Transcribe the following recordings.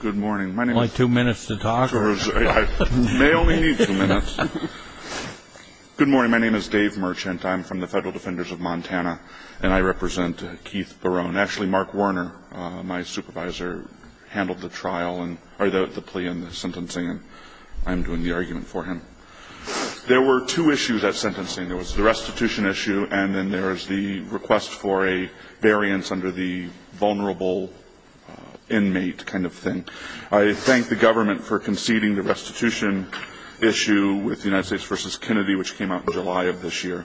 Good morning. My name is Dave Merchant. I'm from the Federal Defenders of Montana, and I represent Keith Baroun. Actually, Mark Warner, my supervisor, handled the plea and the sentencing, and I'm doing the argument for him. There were two issues at sentencing. There was the restitution issue, and then there was the request for a variance under the vulnerable inmate kind of thing. I thank the government for conceding the restitution issue with the United States v. Kennedy, which came out in July of this year.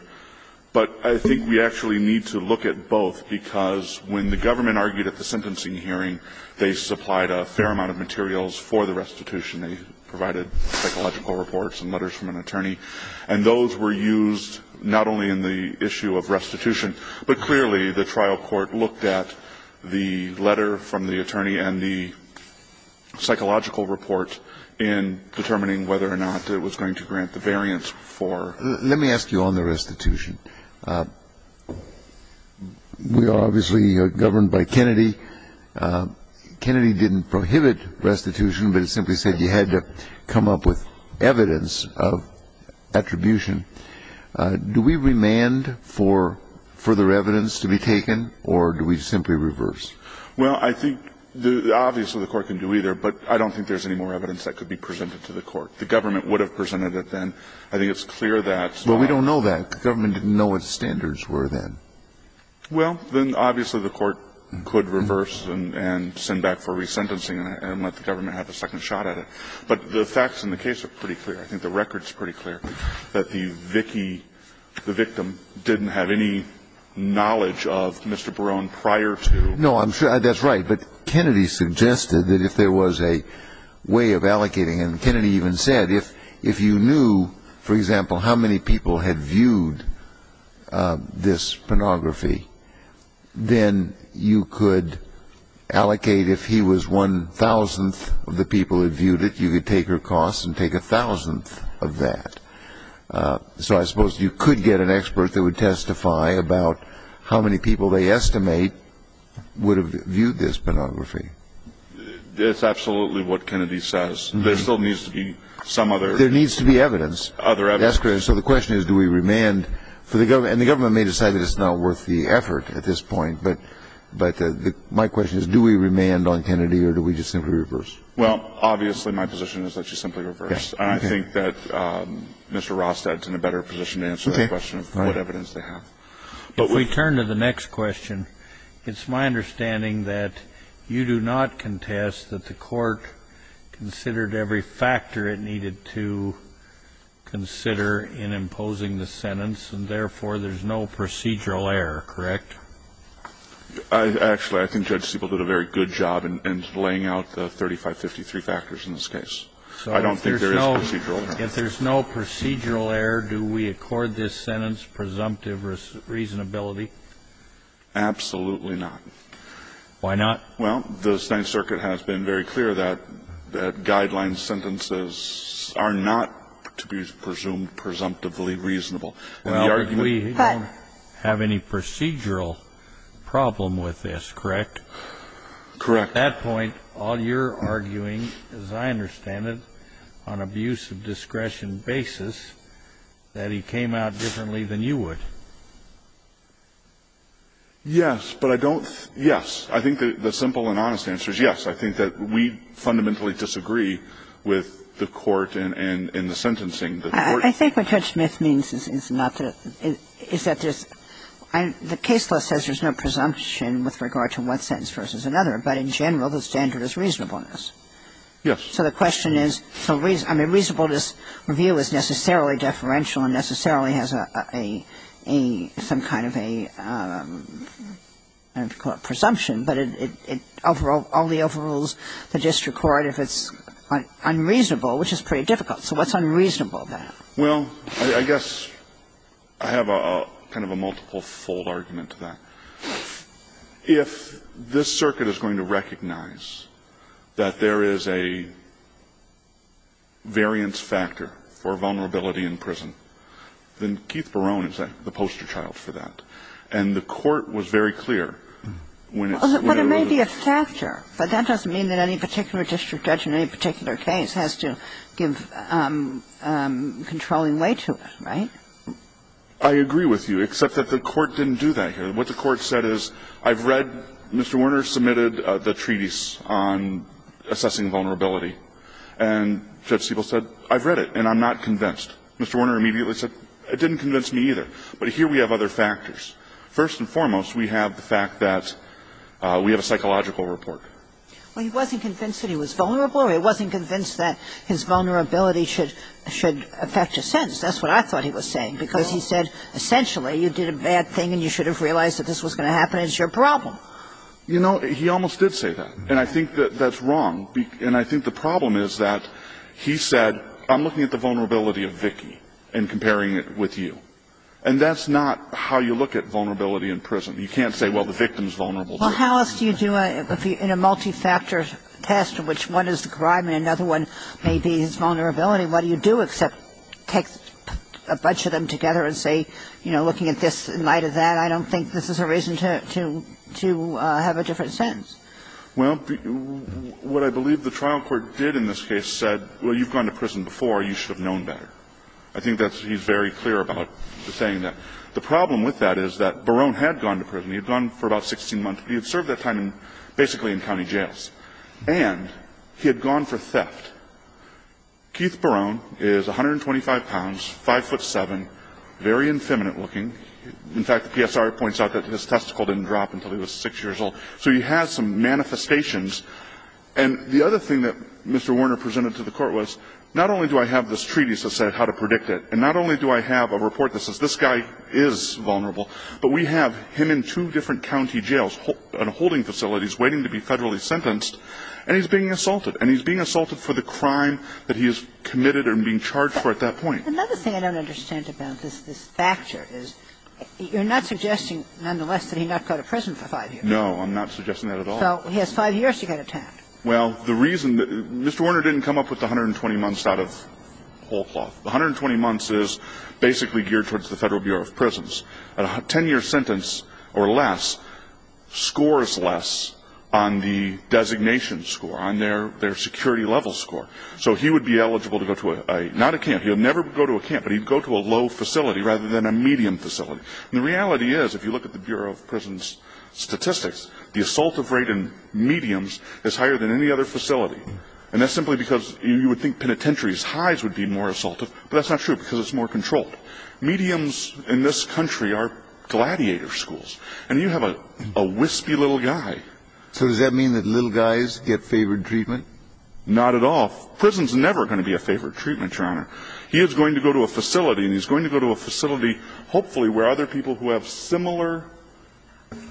But I think we actually need to look at both, because when the government argued at the sentencing hearing, they supplied a fair amount of materials for the restitution. They provided psychological reports and letters from an attorney, and those were used not only in the issue of restitution, but clearly the trial court looked at the letter from the attorney and the psychological report in determining whether or not it was going to grant the variance for the restitution. We obviously are governed by Kennedy. Kennedy didn't prohibit restitution, but he simply said you had to come up with evidence of attribution. Do we remand for further evidence to be taken, or do we simply reverse? Well, I think obviously the court can do either, but I don't think there's any more evidence that could be presented to the court. The government would have presented it then. I think it's clear that's not. Well, we don't know that. The government didn't know what the standards were then. Well, then obviously the court could reverse and send back for resentencing and let the government have a second shot at it. But the facts in the case are pretty clear. I think the record is pretty clear that the Vicki, the victim, didn't have any knowledge of Mr. Barone prior to. No, I'm sure that's right, but Kennedy suggested that if there was a way of allocating, and Kennedy even said if you knew, for example, how many people had viewed this pornography, then you could allocate if he was one thousandth of the people who viewed it, you could take her costs and take a thousandth of that. So I suppose you could get an expert that would testify about how many people they estimate would have viewed this pornography. That's absolutely what Kennedy says. There still needs to be some other. There needs to be evidence. Other evidence. That's correct. So the question is, do we remand? And the government may decide that it's not worth the effort at this point, but my question is, do we remand on Kennedy or do we just simply reverse? Well, obviously, my position is that you simply reverse. I think that Mr. Rostad's in a better position to answer the question of what evidence they have. If we turn to the next question, it's my understanding that you do not contest that the court considered every factor it needed to consider in imposing the sentence, and therefore, there's no procedural error, correct? Actually, I think Judge Siebel did a very good job in laying out the 3553 factors in this case. I don't think there is procedural error. If there's no procedural error, do we accord this sentence presumptive reasonability? Absolutely not. Why not? Well, the Ninth Circuit has been very clear that guideline sentences are not to be presumed presumptively reasonable. Well, we don't have any procedural problem with this, correct? Correct. At that point, all you're arguing, as I understand it, on abuse of discretion basis, that he came out differently than you would. Yes, but I don't think the simple and honest answer is yes. I think that we fundamentally disagree with the court and the sentencing. I think what Judge Smith means is not to – is that there's – the case law says there's no presumption with regard to one sentence versus another, but in general, the standard is reasonableness. Yes. So the question is – I mean, reasonableness review is necessarily deferential and necessarily has a – some kind of a – I don't know if you'd call it presumption, but it overrules the district court if it's unreasonable, which is pretty difficult. So what's unreasonable then? Well, I guess I have a kind of a multiple-fold argument to that. If this circuit is going to recognize that there is a variance factor for vulnerability in prison, then Keith Barone is the poster child for that. And the court was very clear when it's overruled. Well, there may be a factor, but that doesn't mean that any particular district judge in any particular case has to give controlling weight to it, right? I agree with you, except that the court didn't do that here. What the court said is, I've read – Mr. Werner submitted the treaties on assessing vulnerability, and Judge Siebel said, I've read it and I'm not convinced. Mr. Werner immediately said, it didn't convince me either. But here we have other factors. First and foremost, we have the fact that we have a psychological report. Well, he wasn't convinced that he was vulnerable, or he wasn't convinced that his vulnerability should – should affect his sentence. That's what I thought he was saying, because he said, essentially, you did a bad thing and you should have realized that this was going to happen. It's your problem. You know, he almost did say that. And I think that that's wrong. And I think the problem is that he said, I'm looking at the vulnerability of Vicki and comparing it with you. And that's not how you look at vulnerability in prison. You can't say, well, the victim's vulnerable, too. But if you put a bunch of these together, what do you do? What do you do in a multi-factor test in which one is the crime and another one may be his vulnerability, what do you do except take a bunch of them together and say, you know, looking at this in light of that, I don't think this is a reason to – to have a different sentence? Well, what I believe the trial court did in this case said, well, you've gone to prison You should have known better. I think that's – he's very clear about saying that. The problem with that is that Barone had gone to prison. He had gone for about 16 months. He had served that time basically in county jails. And he had gone for theft. Keith Barone is 125 pounds, 5'7", very infeminate looking. In fact, the PSR points out that his testicle didn't drop until he was 6 years old. So he has some manifestations. And the other thing that Mr. Warner presented to the court was, not only do I have this guy vulnerable, but we have him in two different county jails and holding facilities waiting to be federally sentenced, and he's being assaulted. And he's being assaulted for the crime that he is committed and being charged for at that point. Another thing I don't understand about this facture is you're not suggesting nonetheless that he not go to prison for 5 years. No, I'm not suggesting that at all. So he has 5 years to get attacked. Well, the reason, Mr. Warner didn't come up with the 120 months out of whole cloth. The 120 months is basically geared towards the Federal Bureau of Prisons. A 10-year sentence or less scores less on the designation score, on their security level score. So he would be eligible to go to a, not a camp, he would never go to a camp, but he would go to a low facility rather than a medium facility. And the reality is, if you look at the Bureau of Prisons statistics, the assaultive rate in mediums is higher than any other facility. And that's simply because you would think penitentiary's highs would be more assaultive, but that's not true because it's more controlled. Mediums in this country are gladiator schools. And you have a wispy little guy. So does that mean that little guys get favored treatment? Not at all. Prison's never going to be a favored treatment, Your Honor. He is going to go to a facility, and he's going to go to a facility hopefully where other people who have similar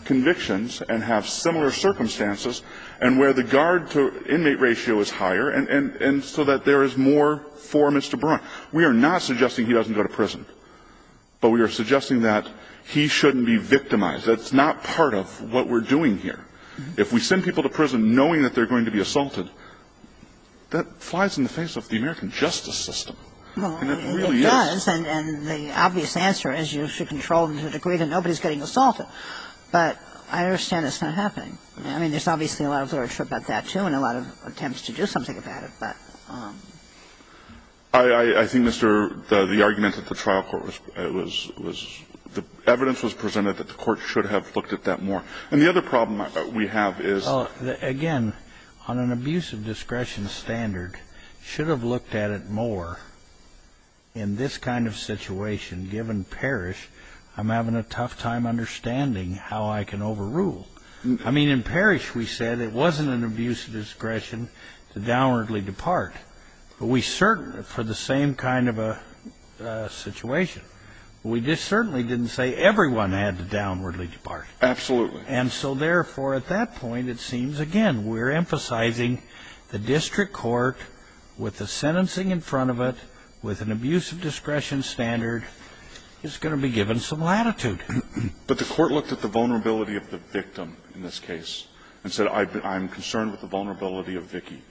convictions and have similar circumstances and where the guard-to-inmate ratio is higher, and so that there is more for Mr. Braun. We are not suggesting he doesn't go to prison, but we are suggesting that he shouldn't be victimized. That's not part of what we're doing here. If we send people to prison knowing that they're going to be assaulted, that flies in the face of the American justice system. And it really is. And the obvious answer is you should control them to the degree that nobody's getting assaulted. But I understand it's not happening. I mean, there's obviously a lot of literature about that, too, and a lot of attempts to do something about it. But ---- I think, Mr. ---- the argument at the trial court was the evidence was presented that the Court should have looked at that more. And the other problem we have is ---- Well, again, on an abuse of discretion standard, should have looked at it more in this kind of situation, given Parrish, I'm having a tough time understanding how I can overrule. I mean, in Parrish, we said it wasn't an abuse of discretion to downwardly depart. But we certainly, for the same kind of a situation, we certainly didn't say everyone had to downwardly depart. Absolutely. And so, therefore, at that point, it seems, again, we're emphasizing the district court with the sentencing in front of it, with an abuse of discretion standard, is going to be given some latitude. But the Court looked at the vulnerability of the victim in this case and said, I'm concerned with the vulnerability of Vicki.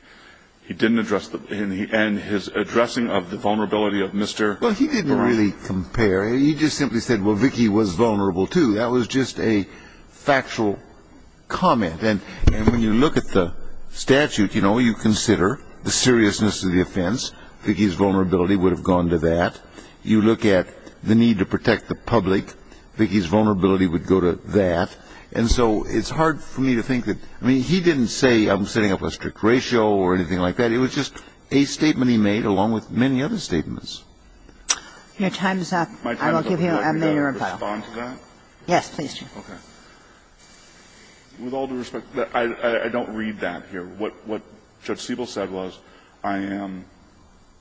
He didn't address the ---- and his addressing of the vulnerability of Mr. Parrish. Well, he didn't really compare. He just simply said, well, Vicki was vulnerable, too. That was just a factual comment. And when you look at the statute, you know, you consider the seriousness of the offense. Vicki's vulnerability would have gone to that. You look at the need to protect the public. Vicki's vulnerability would go to that. And so it's hard for me to think that ---- I mean, he didn't say, I'm setting up a strict ratio or anything like that. It was just a statement he made, along with many other statements. I will give you a minute or so. My time is up. Can I respond to that? Yes, please do. Okay. With all due respect, I don't read that here. What Judge Siebel said was, I am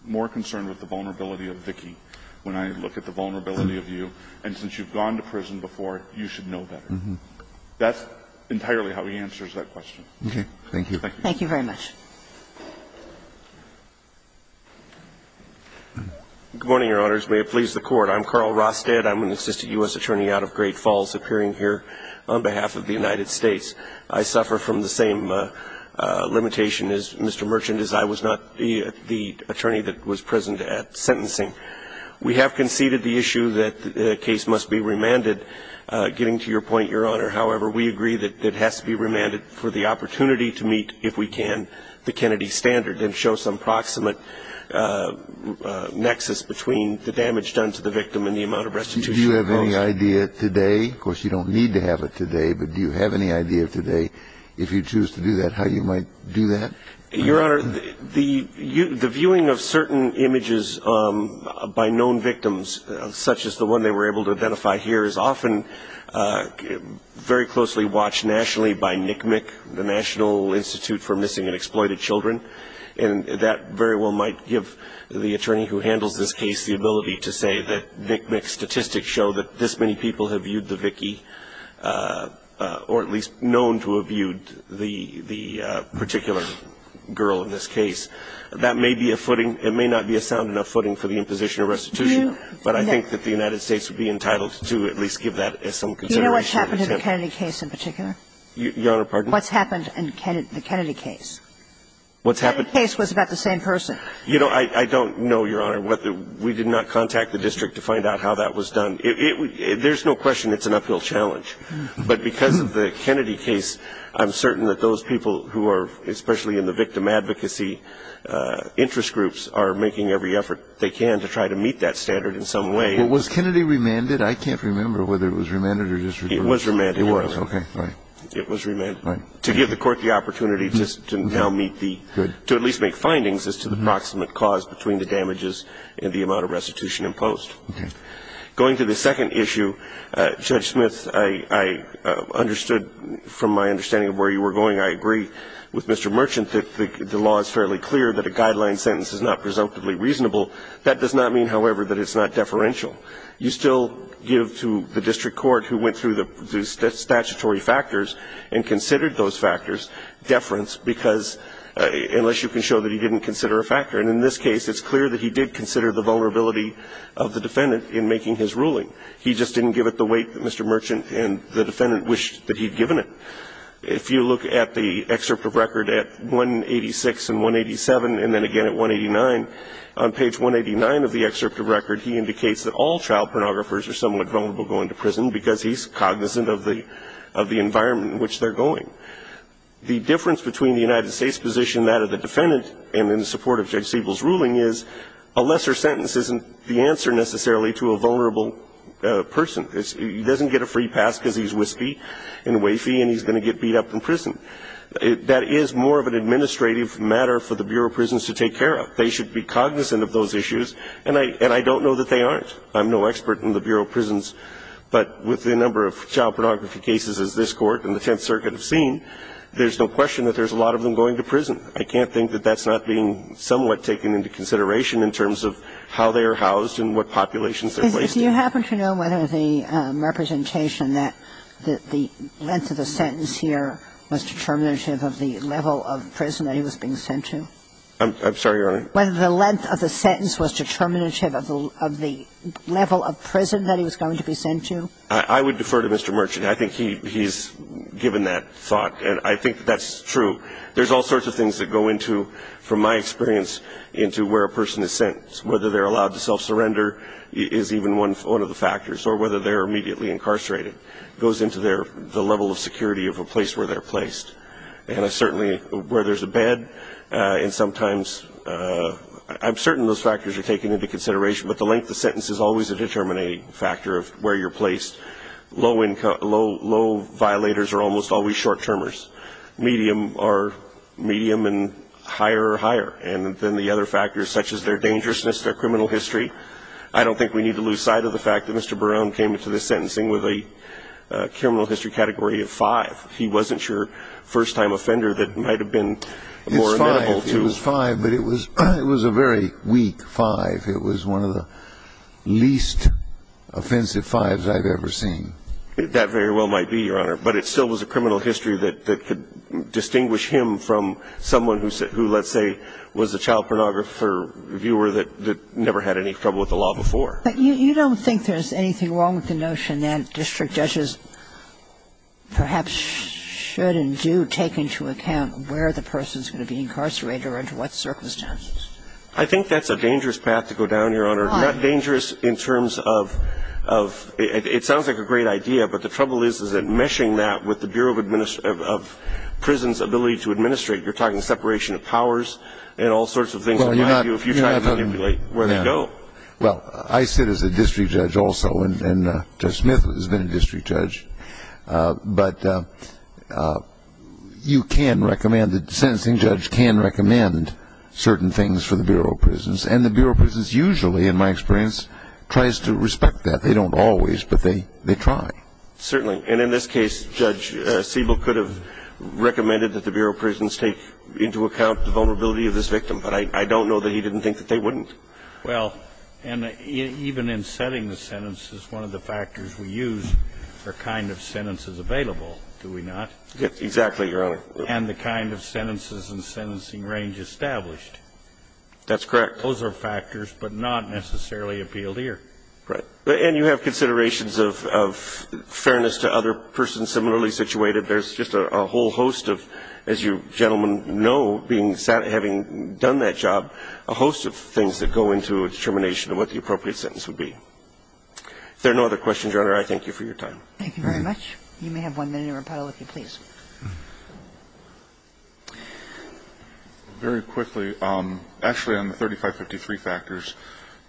more concerned with the vulnerability of Vicki when I look at the vulnerability of you, and since you've gone to prison before, you should know better. That's entirely how he answers that question. Okay. Thank you. Thank you very much. Good morning, Your Honors. May it please the Court. I'm Carl Rostead. I'm an assistant U.S. attorney out of Great Falls, appearing here on behalf of the United States. I suffer from the same limitation as Mr. Merchant, as I was not the attorney that was present at sentencing. We have conceded the issue that the case must be remanded. Getting to your point, Your Honor, however, we agree that it has to be remanded for the opportunity to meet, if we can, the Kennedy standard, and show some proximate nexus between the damage done to the victim and the amount of restitution imposed. Do you have any idea today, of course you don't need to have it today, but do you have any idea today, if you choose to do that, how you might do that? Your Honor, the viewing of certain images by known victims, such as the one they were able to identify here, is often very closely watched nationally by NCMEC, the National Institute for Missing and Exploited Children, and that very well might give the attorney who handles this case the ability to say that NCMEC statistics show that this many people have viewed the Vicky, or at least known to have viewed the particular girl in this case. That may be a footing. It may not be a sound enough footing for the imposition of restitution, but I think that the United States would be entitled to at least give that as some consideration. Do you know what's happened to the Kennedy case in particular? Your Honor, pardon? What's happened in the Kennedy case? What's happened? The Kennedy case was about the same person. You know, I don't know, Your Honor, whether we did not contact the district to find out how that was done. There's no question it's an uphill challenge. But because of the Kennedy case, I'm certain that those people who are especially in the victim advocacy interest groups are making every effort they can to try to meet that standard in some way. Well, was Kennedy remanded? I can't remember whether it was remanded or just removed. It was remanded. It was. Okay. Fine. It was remanded. Fine. To give the Court the opportunity to now meet the, to at least make findings as to the proximate cause between the damages and the amount of restitution imposed. Okay. Going to the second issue, Judge Smith, I understood from my understanding of where you were going. I agree with Mr. Merchant that the law is fairly clear that a guideline sentence is not presumptively reasonable. That does not mean, however, that it's not deferential. You still give to the district court who went through the statutory factors and considered those factors deference because unless you can show that he didn't consider a factor. And in this case, it's clear that he did consider the vulnerability of the defendant in making his ruling. He just didn't give it the weight that Mr. Merchant and the defendant wished that he'd given it. If you look at the excerpt of record at 186 and 187 and then again at 189, on page 189 of the excerpt of record, he indicates that all child pornographers are somewhat vulnerable going to prison because he's cognizant of the environment in which they're going. The difference between the United States position, that of the defendant, and in support of Judge Siebel's ruling is a lesser sentence isn't the answer necessarily to a vulnerable person. He doesn't get a free pass because he's wispy and wafy and he's going to get beat up in prison. That is more of an administrative matter for the Bureau of Prisons to take care of. They should be cognizant of those issues, and I don't know that they aren't. I'm no expert in the Bureau of Prisons, but with the number of child pornography cases as this Court and the Tenth Circuit have seen, there's no question that there's a lot of them going to prison. I can't think that that's not being somewhat taken into consideration in terms of how they are housed and what populations they're placed in. Do you happen to know whether the representation that the length of the sentence here was determinative of the level of prison that he was being sent to? I'm sorry, Your Honor. Whether the length of the sentence was determinative of the level of prison that he was going to be sent to? I would defer to Mr. Merchant. I think he's given that thought, and I think that's true. There's all sorts of things that go into, from my experience, into where a person is sent, whether they're allowed to self-surrender is even one of the factors, or whether they're immediately incarcerated. It goes into their – the level of security of a place where they're placed. And certainly where there's a bed, and sometimes – I'm certain those factors are taken into consideration, but the length of the sentence is always a determining factor of where you're placed. Low violators are almost always short-termers. Medium and higher are higher. And then the other factors, such as their dangerousness, their criminal history, I don't think we need to lose sight of the fact that Mr. Brown came into this sentencing with a criminal history category of five. He wasn't your first-time offender that might have been more amenable to you. It's five. It was five, but it was a very weak five. It was one of the least offensive fives I've ever seen. That very well might be, Your Honor. But it still was a criminal history that could distinguish him from someone who, let's say, was a child pornographer, viewer, that never had any trouble with the law before. But you don't think there's anything wrong with the notion that district judges perhaps should and do take into account where the person's going to be incarcerated or under what circumstances? I think that's a dangerous path to go down, Your Honor. Why? Dangerous in terms of – it sounds like a great idea, but the trouble is, is that meshing that with the Bureau of Prisons' ability to administrate, you're talking separation of powers and all sorts of things that might do if you try to manipulate where they go. Well, I sit as a district judge also, and Judge Smith has been a district judge. But you can recommend – the sentencing judge can recommend certain things for the Bureau of Prisons. And the Bureau of Prisons usually, in my experience, tries to respect that. They don't always, but they try. Certainly. And in this case, Judge Siebel could have recommended that the Bureau of Prisons take into account the vulnerability of this victim. But I don't know that he didn't think that they wouldn't. Well, and even in setting the sentences, one of the factors we use are kind of sentences available, do we not? Exactly, Your Honor. And the kind of sentences and sentencing range established. That's correct. Those are factors, but not necessarily appealed here. Right. And you have considerations of fairness to other persons similarly situated. There's just a whole host of, as you gentlemen know, having done that job, a host of things that go into a determination of what the appropriate sentence would be. If there are no other questions, Your Honor, I thank you for your time. Thank you very much. You may have one minute in rebuttal if you please. Very quickly. Actually, on the 3553 factors,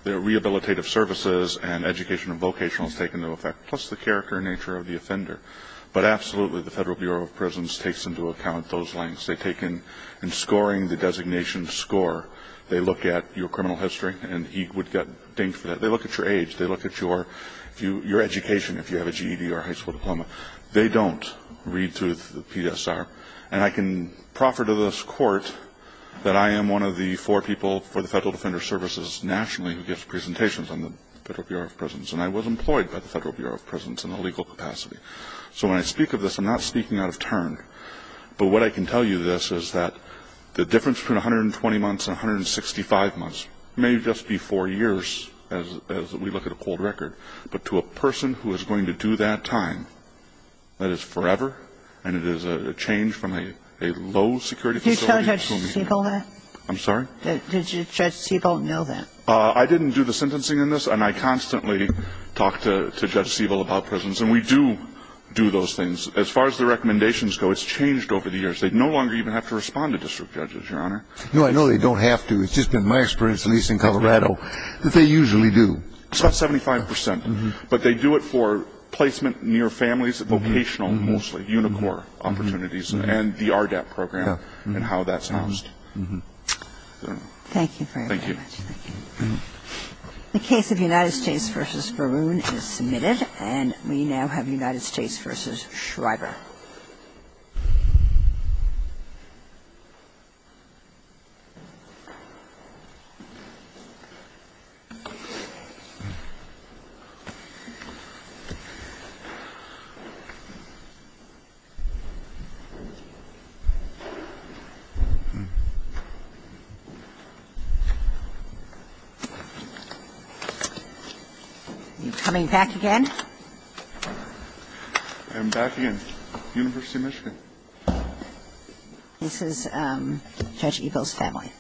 the rehabilitative services and education and vocational is taken into effect, plus the character and nature of the offender. But absolutely, the Federal Bureau of Prisons takes into account those lengths. They take in scoring the designation score. They look at your criminal history, and he would get dinged for that. They look at your age. They look at your education, if you have a GED or high school diploma. They don't read through the PSR. And I can proffer to this Court that I am one of the four people for the Federal Defender Services nationally who gives presentations on the Federal Bureau of Prisons, and I was employed by the Federal Bureau of Prisons in a legal capacity. So when I speak of this, I'm not speaking out of turn, but what I can tell you this is that the difference between 120 months and 165 months may just be four years as we look at a cold record. But to a person who is going to do that time, that is forever, and it is a change from a low security facility to a medium. Did you tell Judge Siebel that? I'm sorry? Did Judge Siebel know that? I didn't do the sentencing in this, and I constantly talk to Judge Siebel about prisons, and we do do those things. As far as the recommendations go, it's changed over the years. They no longer even have to respond to district judges, Your Honor. No, I know they don't have to. It's just been my experience, at least in Colorado, that they usually do. It's about 75 percent. But they do it for placement near families, vocational mostly, Unicor opportunities and the RDAP program and how that's housed. Thank you very much. Thank you. The case of United States v. Verroon is submitted. And we now have United States v. Shriver. Are you coming back again? I am back again. University of Michigan. This is Judge Siebel's family.